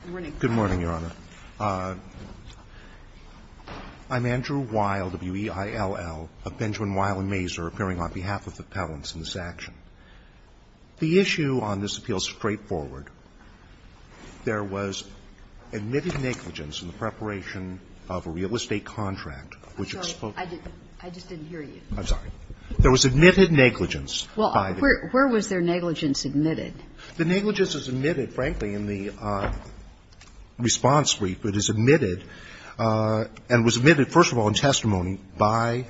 I'm Andrew Weil, W-E-I-L-L, of Benjamin, Weil & Masur, appearing on behalf of the appellants in this action. The issue on this appeal is straightforward. There was admitted negligence in the preparation of a real estate contract which exposed you. I'm sorry. I just didn't hear you. I'm sorry. There was admitted negligence by the attorney. Well, where was their negligence admitted? The negligence is admitted, frankly, in the response brief. It is admitted and was admitted, first of all, in testimony by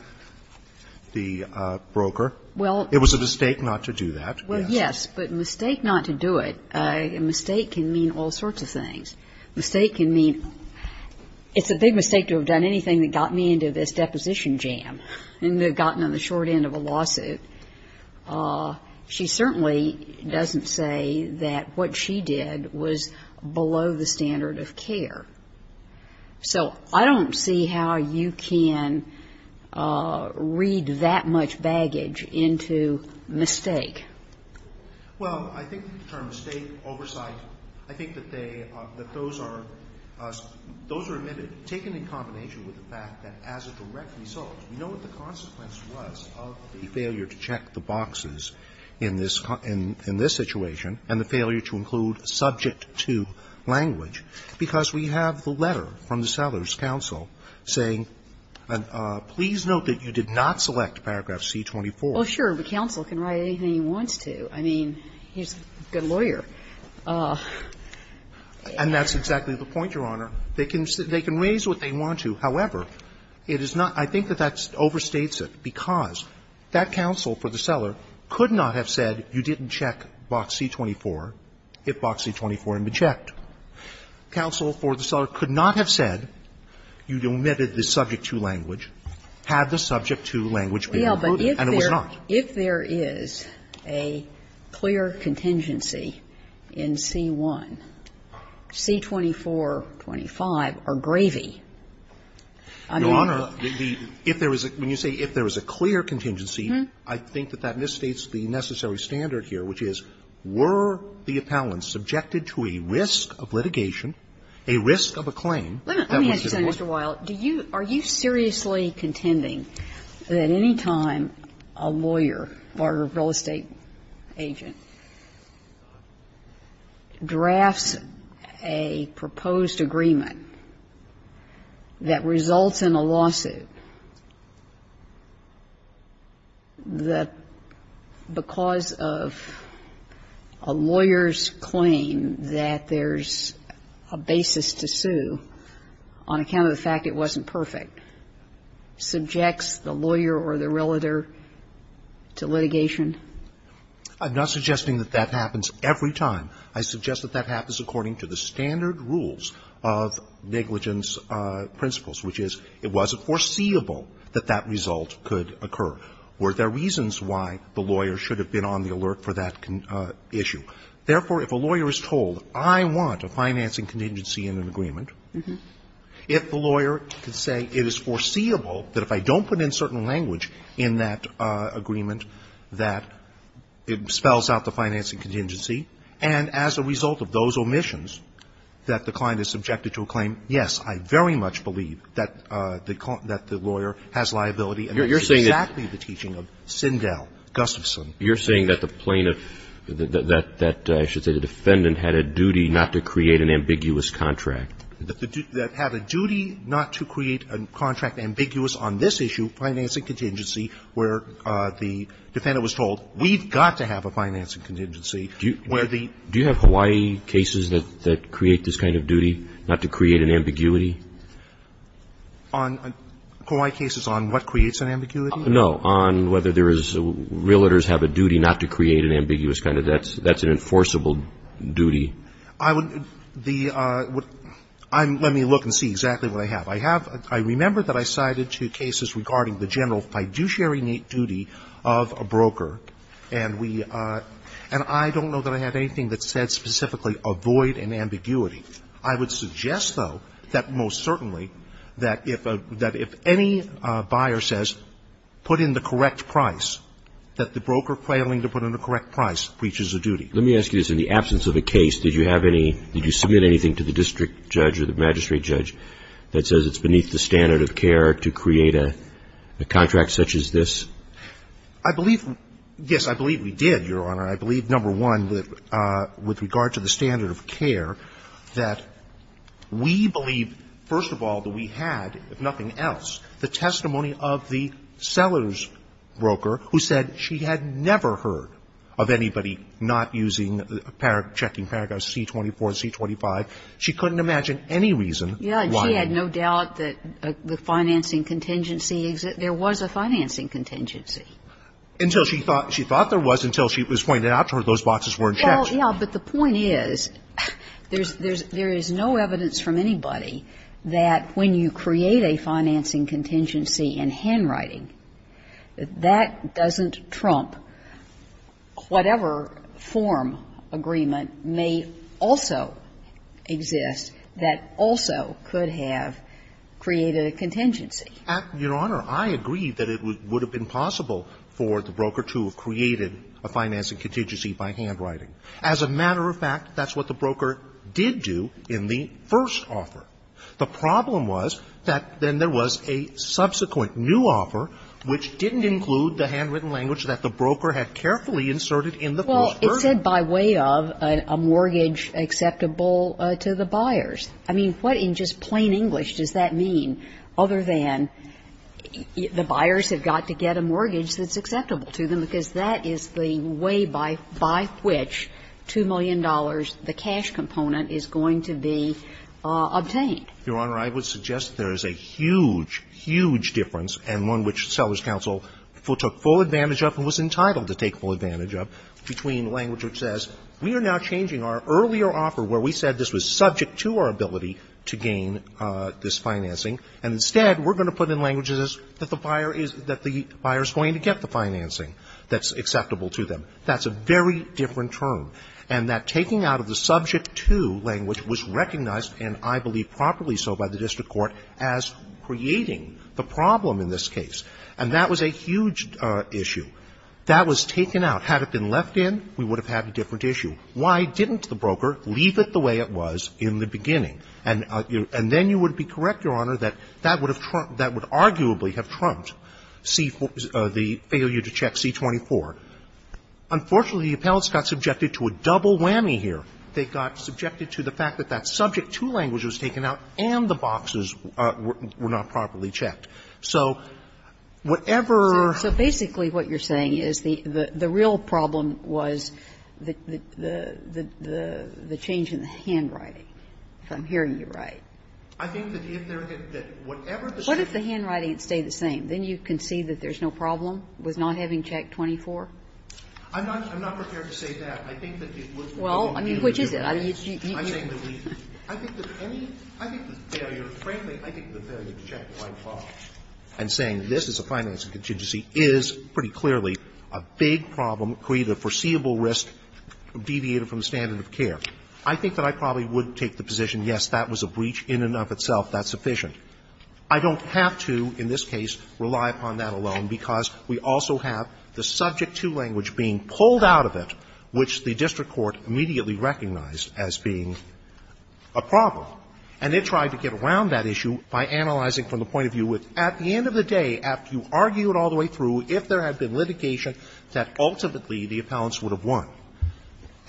the broker. Well, it was a mistake not to do that. Well, yes, but a mistake not to do it, a mistake can mean all sorts of things. A mistake can mean – it's a big mistake to have done anything that got me into this deposition jam and gotten on the short end of a lawsuit. She certainly doesn't say that what she did was below the standard of care. So I don't see how you can read that much baggage into mistake. Well, I think the term mistake, oversight, I think that they – that those are admitted, taken in combination with the fact that as a direct result, you know what the consequence was of the failure to check the boxes in this – in this situation and the failure to include subject to language, because we have the letter from the Sellers counsel saying, please note that you did not select paragraph C-24. Well, sure. The counsel can write anything he wants to. I mean, he's a good lawyer. And that's exactly the point, Your Honor. They can raise what they want to. However, it is not – I think that that overstates it, because that counsel for the Seller could not have said you didn't check box C-24 if box C-24 had been checked. Counsel for the Seller could not have said you omitted the subject to language had the subject to language been included, and it was not. Well, but if there – if there is a clear contingency in C-1, C-24, 25 are gravy. I mean the – Your Honor, the – if there is a – when you say if there is a clear contingency, I think that that misstates the necessary standard here, which is were the appellants subjected to a risk of litigation, a risk of a claim, that was the point. Let me ask you something, Mr. Wiles. Do you – are you seriously contending that any time a lawyer or a real estate agent drafts a proposed agreement that results in a lawsuit that because of a lawyer's claim that there's a basis to sue on account of the fact it wasn't perfect, that the lawyer is told, I want a financing contingency in an agreement, if the lawyer could say it is right to sue on account of the fact that there's a basis to sue on is foreseeable that if I don't put in certain language in that agreement that it spells out the financing contingency, and as a result of those omissions that the client is subjected to a claim, yes, I very much believe that the lawyer has liability and that's exactly the teaching of Sindel, Gustafson. You're saying that the plaintiff – that I should say the defendant had a duty not to create an ambiguous contract. That had a duty not to create a contract ambiguous on this issue, financing contingency, where the defendant was told, we've got to have a financing contingency, where the – Do you have Hawaii cases that create this kind of duty, not to create an ambiguity? On – Hawaii cases on what creates an ambiguity? No. On whether there is – realtors have a duty not to create an ambiguous kind of – that's an enforceable duty. I would – the – I'm – let me look and see exactly what I have. I have – I remember that I cited two cases regarding the general fiduciary duty of a broker, and we – and I don't know that I have anything that said specifically avoid an ambiguity. I would suggest, though, that most certainly that if a – that if any buyer says put in the correct price, that the broker failing to put in the correct price reaches a duty. Let me ask you this. In the absence of a case, did you have any – did you submit anything to the district judge or the magistrate judge that says it's beneath the standard of care to create a – a contract such as this? I believe – yes, I believe we did, Your Honor. I believe, number one, that with regard to the standard of care, that we believe, first of all, that we had, if nothing else, the testimony of the seller's broker who said she had never heard of anybody not using – checking paragraphs C-24 and C-25. She couldn't imagine any reason why. Yes, and she had no doubt that the financing contingency – there was a financing contingency. Until she thought – she thought there was until she was pointed out to her those boxes weren't checked. Well, yes, but the point is, there's – there's – there is no evidence from anybody that when you create a financing contingency in handwriting, that that doesn't trump whatever form agreement may also exist that also could have created a contingency. Your Honor, I agree that it would – would have been possible for the broker to have created a financing contingency by handwriting. As a matter of fact, that's what the broker did do in the first offer. The problem was that then there was a subsequent new offer which didn't include the handwritten language that the broker had carefully inserted in the first version. Well, it said by way of a mortgage acceptable to the buyers. I mean, what in just plain English does that mean other than the buyers have got to get a mortgage that's acceptable to them, because that is the way by which $2 million, the cash component, is going to be obtained? Your Honor, I would suggest there is a huge, huge difference, and one which Seller's Counsel took full advantage of and was entitled to take full advantage of, between language which says we are now changing our earlier offer where we said this was subject to our ability to gain this financing, and instead we're going to put in language that the buyer is going to get the financing that's acceptable to them. That's a very different term, and that taking out of the subject-to language was recognized, and I believe properly so by the district court, as creating the problem in this case. And that was a huge issue. That was taken out. Had it been left in, we would have had a different issue. Why didn't the broker leave it the way it was in the beginning? And then you would be correct, Your Honor, that that would have trumped, that would arguably have trumped C the failure to check C-24. Unfortunately, the appellants got subjected to a double whammy here. They got subjected to the fact that that subject-to language was taken out and the boxes were not properly checked. So whatever you're saying is that the real problem was the change in the handwriting, if I'm hearing you right. I think that if there had been, whatever the same thing. What if the handwriting had stayed the same? Then you can see that there is no problem with not having checked 24? I'm not prepared to say that. I think that it would be reasonable to do that. Well, I mean, which is it? I mean, I'm saying that we could. I think that any of the failures, frankly, I think the failure to check the right hand and saying this is a financing contingency is pretty clearly a big problem, create a foreseeable risk deviated from the standard of care. I think that I probably would take the position, yes, that was a breach in and of itself. That's sufficient. I don't have to, in this case, rely upon that alone because we also have the subject to language being pulled out of it, which the district court immediately recognized as being a problem. And it tried to get around that issue by analyzing from the point of view with, at the end of the day, after you argue it all the way through, if there had been litigation, that ultimately the appellants would have won.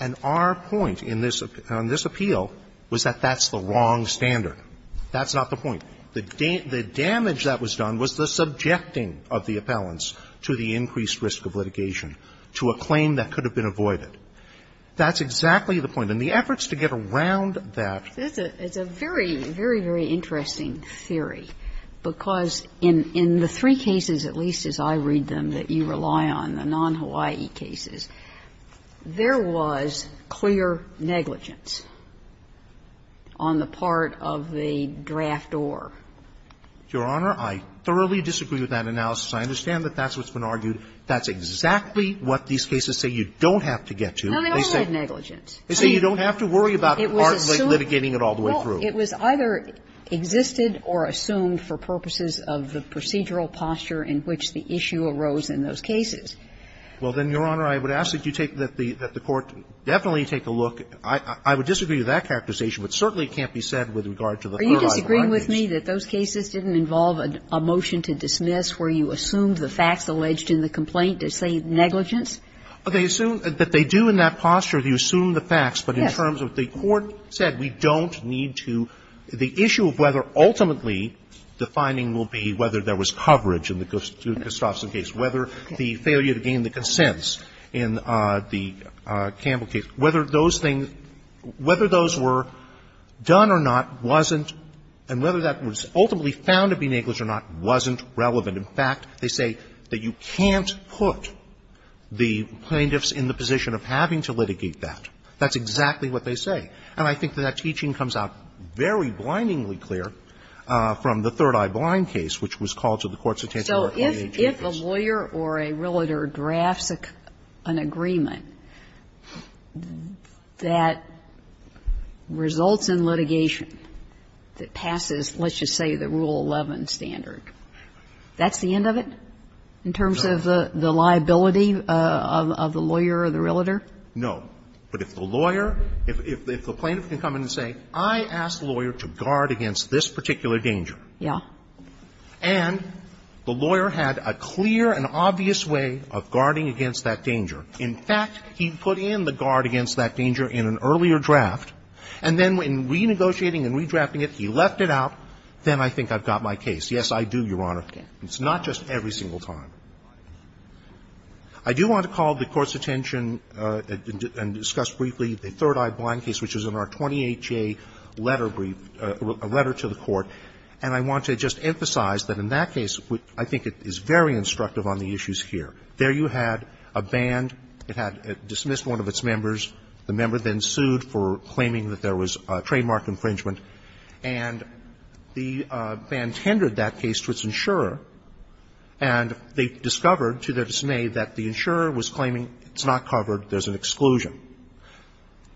And our point in this appeal was that that's the wrong standard. That's not the point. The damage that was done was the subjecting of the appellants to the increased risk of litigation to a claim that could have been avoided. That's exactly the point. And the efforts to get around that. It's a very, very, very interesting theory, because in the three cases, at least as I read them, that you rely on, the non-Hawaii cases, there was clear negligence on the part of the draft or. Your Honor, I thoroughly disagree with that analysis. I understand that that's what's been argued. That's exactly what these cases say you don't have to get to. No, they also had negligence. They say you don't have to worry about the part like litigating it all the way through. Well, it was either existed or assumed for purposes of the procedural posture in which the issue arose in those cases. Well, then, Your Honor, I would ask that you take the the court definitely take a look. I would disagree with that characterization, but certainly it can't be said with regard to the third-eye findings. Are you disagreeing with me that those cases didn't involve a motion to dismiss where you assumed the facts alleged in the complaint to say negligence? They assume that they do in that posture, they assume the facts, but in terms of what the court said, we don't need to. The issue of whether ultimately the finding will be whether there was coverage in the Gustafson case, whether the failure to gain the consents in the Campbell case, whether those things, whether those were done or not wasn't, and whether that was ultimately found to be negligence or not, wasn't relevant. In fact, they say that you can't put the plaintiffs in the position of having to litigate that. That's exactly what they say. And I think that that teaching comes out very blindingly clear from the third-eye blind case, which was called to the courts of Tantamount Court of Interest. So if a lawyer or a realtor drafts an agreement that results in litigation that passes, let's just say, the Rule 11 standard, that's the end of it in terms of the liability of the lawyer or the realtor? No. But if the lawyer, if the plaintiff can come in and say, I asked the lawyer to guard against this particular danger. Yeah. And the lawyer had a clear and obvious way of guarding against that danger. In fact, he put in the guard against that danger in an earlier draft, and then when he was renegotiating and redrafting it, he left it out, then I think I've got my case. Yes, I do, Your Honor. It's not just every single time. I do want to call the Court's attention and discuss briefly the third-eye blind case, which is in our 28-J letter brief, a letter to the Court. And I want to just emphasize that in that case, I think it is very instructive on the issues here. There you had a band that had dismissed one of its members. The member then sued for claiming that there was trademark infringement. And the band tendered that case to its insurer, and they discovered, to their dismay, that the insurer was claiming it's not covered, there's an exclusion.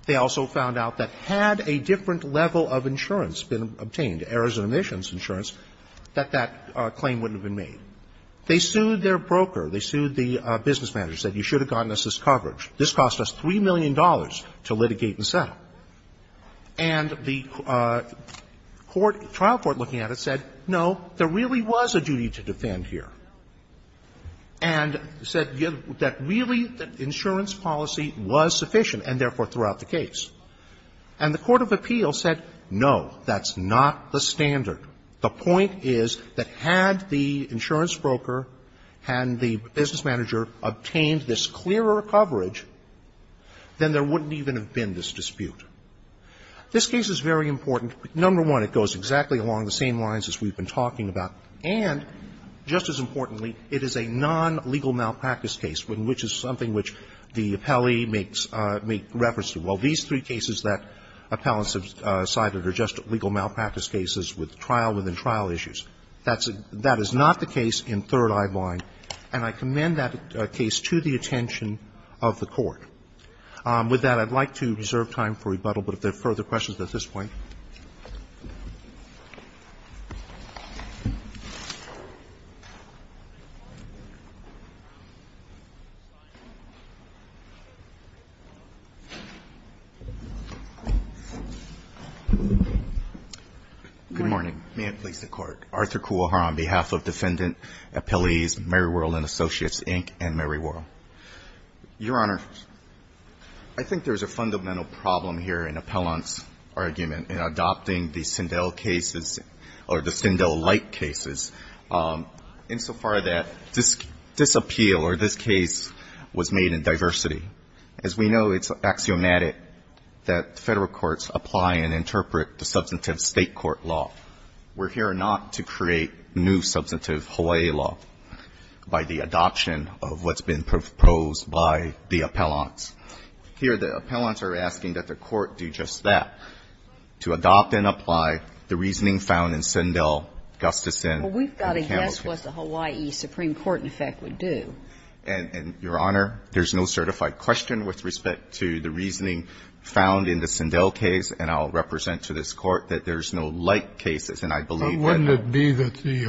They also found out that had a different level of insurance been obtained, errors and omissions insurance, that that claim wouldn't have been made. They sued their broker. They sued the business manager, said you should have gotten us this coverage. This cost us $3 million to litigate and settle. And the court, trial court looking at it said, no, there really was a duty to defend here. And said that really the insurance policy was sufficient, and therefore threw out the case. And the court of appeals said, no, that's not the standard. The point is that had the insurance broker and the business manager obtained this clearer coverage, then there wouldn't even have been this dispute. This case is very important. Number one, it goes exactly along the same lines as we've been talking about. And, just as importantly, it is a non-legal malpractice case, which is something which the appellee makes reference to. Well, these three cases that appellants have cited are just legal malpractice cases with trial-within-trial issues. That's a – that is not the case in Third Eye Blind, and I commend that case to the attention of the court. With that, I'd like to reserve time for rebuttal, but if there are further questions at this point. Good morning. May it please the Court. Arthur Kuwaha on behalf of Defendant Appellees Meriwurl and Associates, Inc. and Meriwurl. Your Honor, I think there's a fundamental problem here in appellant's argument in adopting the Sindel cases or the Sindel-like cases, insofar that this appeal or this case was made in diversity. As we know, it's axiomatic that Federal courts apply and interpret the substantive State court law. We're here not to create new substantive Hawaii law by the adoption of what's been proposed by the appellants. Here, the appellants are asking that the court do just that, to adopt and apply the reasoning found in Sindel, Gustafson, and Kausman. Well, we've got to guess what the Hawaii Supreme Court, in effect, would do. And, Your Honor, there's no certified question with respect to the reasoning found in the Sindel case, and I'll represent to this Court that there's no like cases, and I believe that the –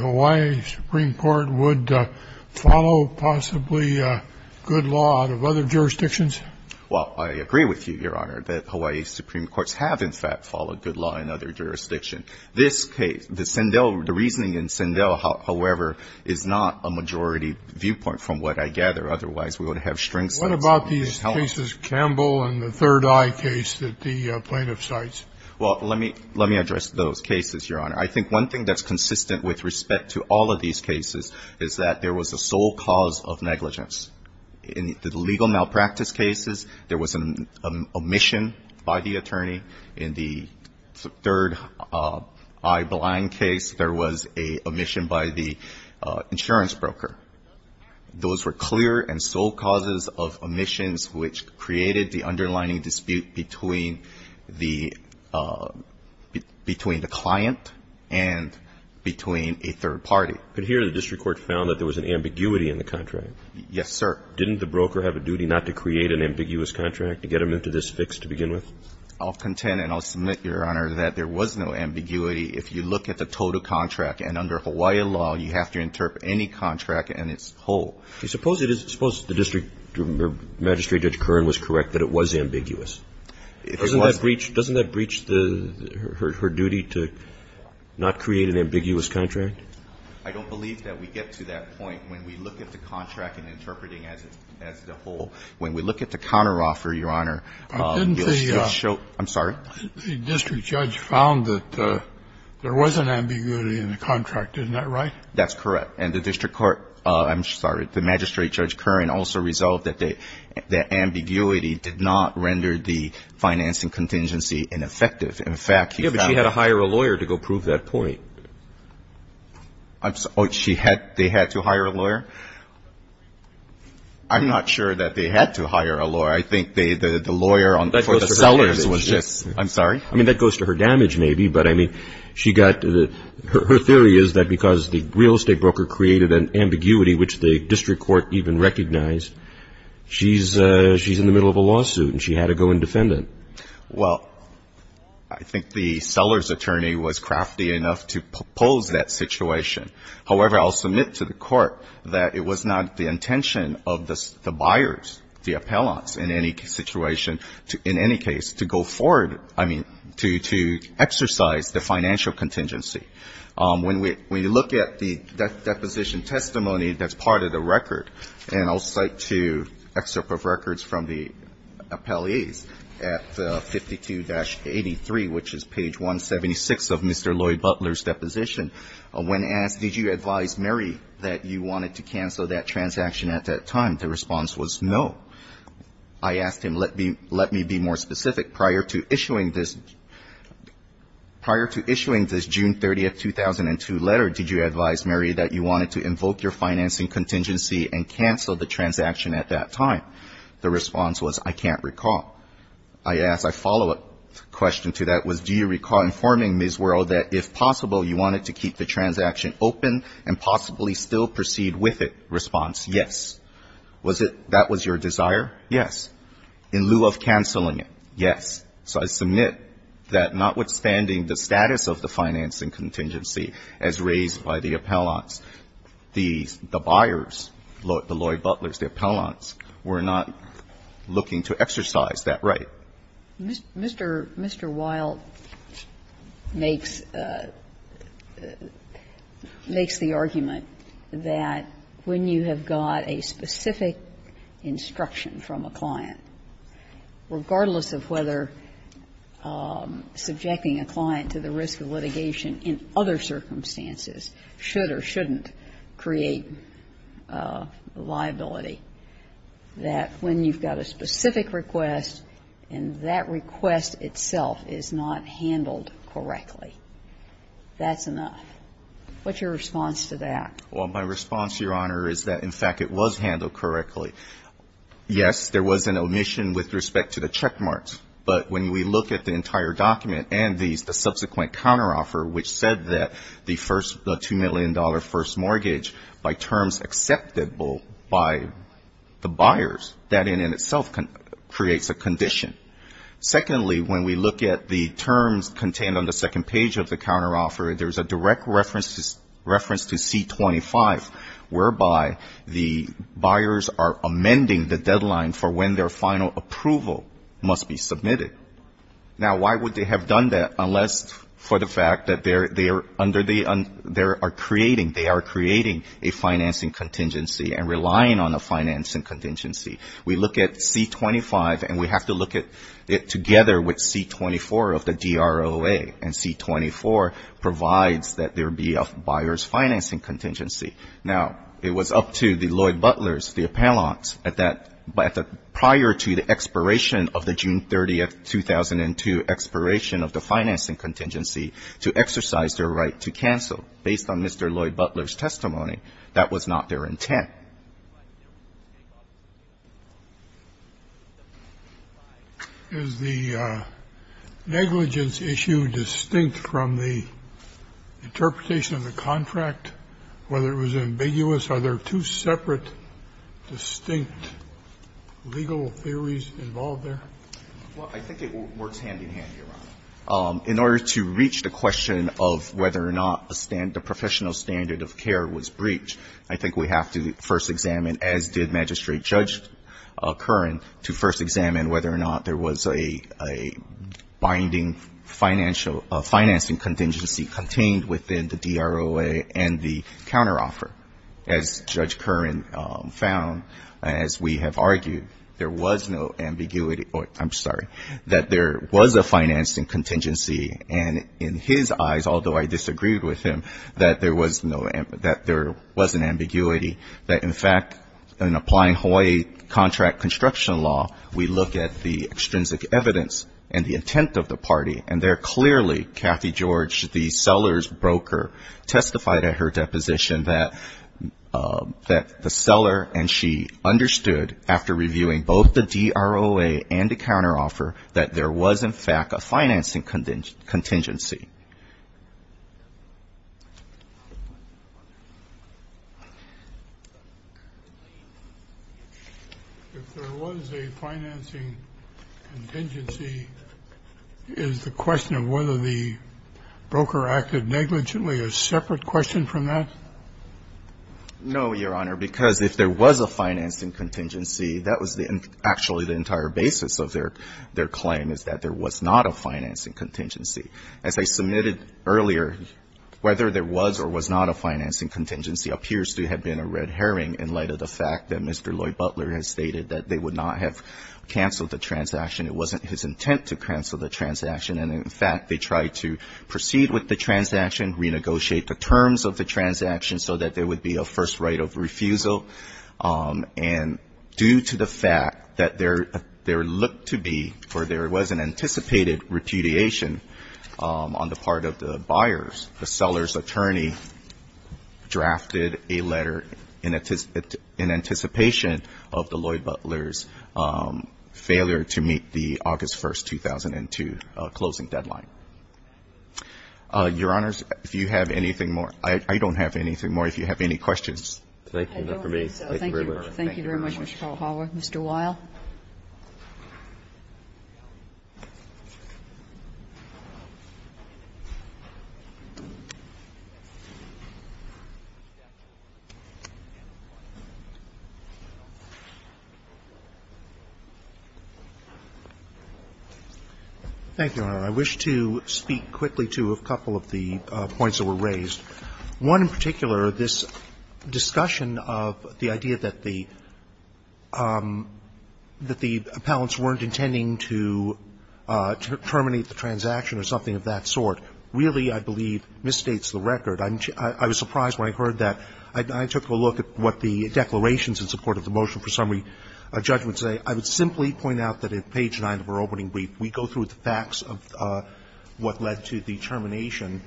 Well, I agree with you, Your Honor, that Hawaii Supreme Courts have, in fact, followed good law in other jurisdictions. This case, the Sindel – the reasoning in Sindel, however, is not a majority viewpoint, from what I gather. Otherwise, we would have string states on the Hill. What about these cases, Campbell and the Third Eye case that the plaintiff cites? Well, let me – let me address those cases, Your Honor. I think one thing that's consistent with respect to all of these cases is that there was a sole cause of negligence. In the legal malpractice cases, there was an omission by the attorney. In the Third Eye blind case, there was an omission by the insurance broker. Those were clear and sole causes of omissions, which created the underlining dispute between the – between the client and between a third party. But here, the district court found that there was an ambiguity in the contract. Yes, sir. Didn't the broker have a duty not to create an ambiguous contract to get him into this fix to begin with? I'll contend, and I'll submit, Your Honor, that there was no ambiguity. If you look at the total contract, and under Hawaii law, you have to interpret any contract and its whole. Suppose it is – suppose the district magistrate, Judge Kern, was correct, that it was ambiguous. If it wasn't. Doesn't that breach the – her duty to not create an ambiguous contract? I don't believe that we get to that point when we look at the contract and interpreting as the whole. When we look at the counteroffer, Your Honor, you'll still show – I'm sorry? Didn't the district judge found that there was an ambiguity in the contract. Isn't that right? That's correct. And the district court – I'm sorry. The magistrate, Judge Kern, also resolved that the ambiguity did not render the financing contingency ineffective. In fact, he found that – Yes, but she had to hire a lawyer to go prove that point. I'm – oh, she had – they had to hire a lawyer? I'm not sure that they had to hire a lawyer. I think they – the lawyer on – for the sellers was just – That goes to her damages. I'm sorry? I mean, that goes to her damage, maybe, but I mean, she got – her theory is that because the real estate broker created an ambiguity, which the district court even recognized, she's in the middle of a lawsuit, and she had to go and defend it. Well, I think the seller's attorney was crafty enough to propose that situation. However, I'll submit to the court that it was not the intention of the buyers, the appellants, in any situation, in any case, to go forward – I mean, to exercise the financial contingency. When we look at the deposition testimony that's part of the record, and I'll cite to excerpt of records from the appellees at 52-83, which is page 176 of Mr. Lloyd Butler's deposition, when asked, did you advise Mary that you wanted to cancel that transaction at that time, the response was no. I asked him, let me be more specific. Prior to issuing this – prior to issuing this June 30, 2002, letter, did you advise Mary that you wanted to invoke your financing contingency and cancel the transaction at that time? The response was, I can't recall. I asked – I follow-up question to that was, do you recall informing Ms. Wuerl that, if possible, you wanted to keep the transaction open and possibly still proceed with it? Response, yes. Was it – that was your desire? Yes. In lieu of canceling it? Yes. So I submit that, notwithstanding the status of the financing contingency, as raised by the appellants, the – the buyers, the Lloyd Butlers, the appellants, were not looking to exercise that right. Mr. – Mr. Wilde makes – makes the argument that when you have got a specific instruction from a client, regardless of whether subjecting a client to the risk of litigation in other circumstances should or shouldn't create liability, that when you've got a specific request and that request itself is not handled correctly, that's enough. What's your response to that? Well, my response, Your Honor, is that, in fact, it was handled correctly. Yes, there was an omission with respect to the checkmarks, but when we look at the subsequent counteroffer, which said that the first – the $2 million first mortgage, by terms acceptable by the buyers, that in and of itself creates a condition. Secondly, when we look at the terms contained on the second page of the counteroffer, there's a direct reference to – reference to C-25, whereby the buyers are amending the deadline for when their final approval must be submitted. Now, why would they have done that, unless for the fact that they are under the – they are creating – they are creating a financing contingency and relying on a financing contingency? We look at C-25, and we have to look at it together with C-24 of the DROA, and C-24 provides that there be a buyer's financing contingency. Now, it was up to the Lloyd Butlers, the appellants, at that – prior to the expiration of the June 30, 2002, expiration of the financing contingency, to exercise their right to cancel. Based on Mr. Lloyd Butler's testimony, that was not their intent. Scalia. Is the negligence issue distinct from the interpretation of the contract? Whether it was ambiguous? Are there two separate, distinct legal theories involved there? Well, I think it works hand-in-hand, Your Honor. In order to reach the question of whether or not a – the professional standard of care was breached, I think we have to first examine, as did Magistrate Judge Curran, to first examine whether or not there was a binding financial – financing contingency contained within the DROA and the counteroffer. As Judge Curran found, as we have argued, there was no ambiguity – I'm sorry, that there was a financing contingency, and in his eyes, although I disagreed with him, that there was no – that there was an ambiguity, that in fact, in applying Hawaii contract construction law, we look at the extrinsic evidence and the intent of the party, and there, clearly, Kathy George, the seller's broker, testified at her deposition that – that the seller and she understood, after reviewing both the DROA and the counteroffer, that there was, in fact, a financing contingency. If there was a financing contingency, is the question of whether the broker acted negligently a separate question from that? No, Your Honor, because if there was a financing contingency, that was actually the entire basis of their claim, is that there was not a financing contingency. As I submitted earlier, whether there was or was not a financing contingency appears to have been a red herring in light of the fact that Mr. Lloyd Butler has stated that they would not have canceled the transaction, it wasn't his intent to cancel the transaction, and in fact, they tried to proceed with the transaction, renegotiate the terms of the transaction so that there would be a first right of refusal, and due to the fact that there looked to be, or there was an anticipated repudiation on the part of the buyers, the seller's attorney drafted a letter in anticipation of the Lloyd Butler's failure to meet the August 1, 2002, closing deadline. Your Honors, if you have anything more, I don't have anything more. If you have any questions. Thank you. Thank you. Thank you very much, Mr. Powell. Mr. Weill. Thank you, Your Honor. I wish to speak quickly to a couple of the points that were raised. One in particular, this discussion of the idea that the appellants weren't intending to terminate the transaction or something of that sort, really, I believe, misstates the record. I was surprised when I heard that. I took a look at what the declarations in support of the motion for summary judgment say. I would simply point out that at page 9 of our opening brief, we go through the facts of what led to the termination,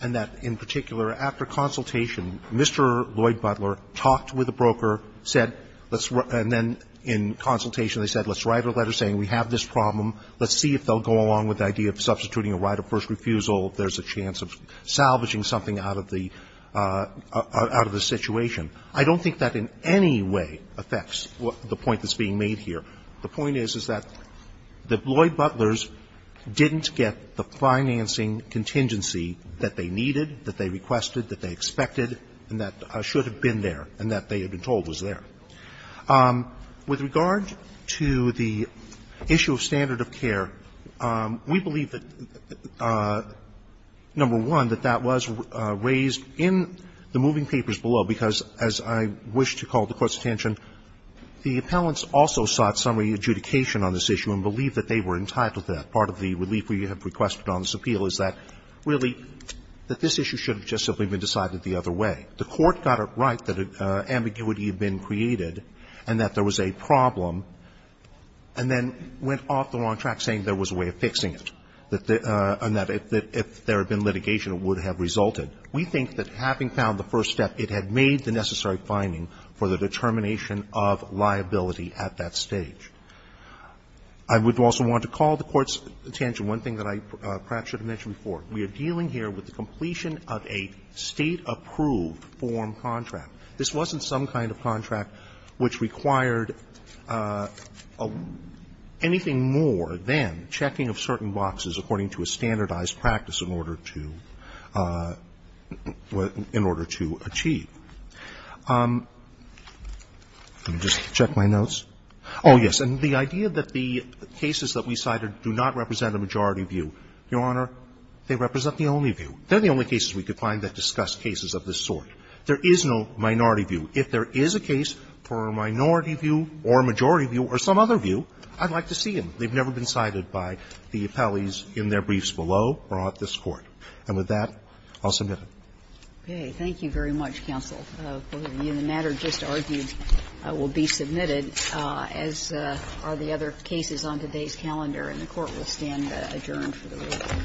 and that, in particular, after consultation, Mr. Lloyd Butler talked with the broker, said, let's – and then, in consultation, they said, let's write a letter saying we have this problem, let's see if they'll go along with the idea of substituting a right of first refusal if there's a chance of salvaging something out of the – out of the situation. I don't think that in any way affects the point that's being made here. The point is, is that the Lloyd Butlers didn't get the financing contingency that they needed, that they requested, that they expected, and that should have been there, and that they had been told was there. With regard to the issue of standard of care, we believe that, number one, that was raised in the moving papers below because, as I wish to call the Court's attention, the appellants also sought summary adjudication on this issue and believe that they were entitled to that. Part of the relief we have requested on this appeal is that, really, that this issue should have just simply been decided the other way. The Court got it right that ambiguity had been created and that there was a problem and then went off the wrong track saying there was a way of fixing it, and that if there had been litigation, it would have resulted. We think that having found the first step, it had made the necessary finding for the determination of liability at that stage. I would also want to call the Court's attention to one thing that I perhaps should have mentioned before. We are dealing here with the completion of a State-approved form contract. This wasn't some kind of contract which required anything more than checking of certain boxes according to a standardized practice in order to achieve. Let me just check my notes. Oh, yes. And the idea that the cases that we cited do not represent a majority view. Your Honor, they represent the only view. They're the only cases we could find that discussed cases of this sort. There is no minority view. If there is a case for a minority view or a majority view or some other view, I'd like to see them. They've never been cited by the appellees in their briefs below or at this Court. And with that, I'll submit it. Okay. Thank you very much, counsel. The matter just argued will be submitted, as are the other cases on today's calendar, and the Court will stand adjourned for the week.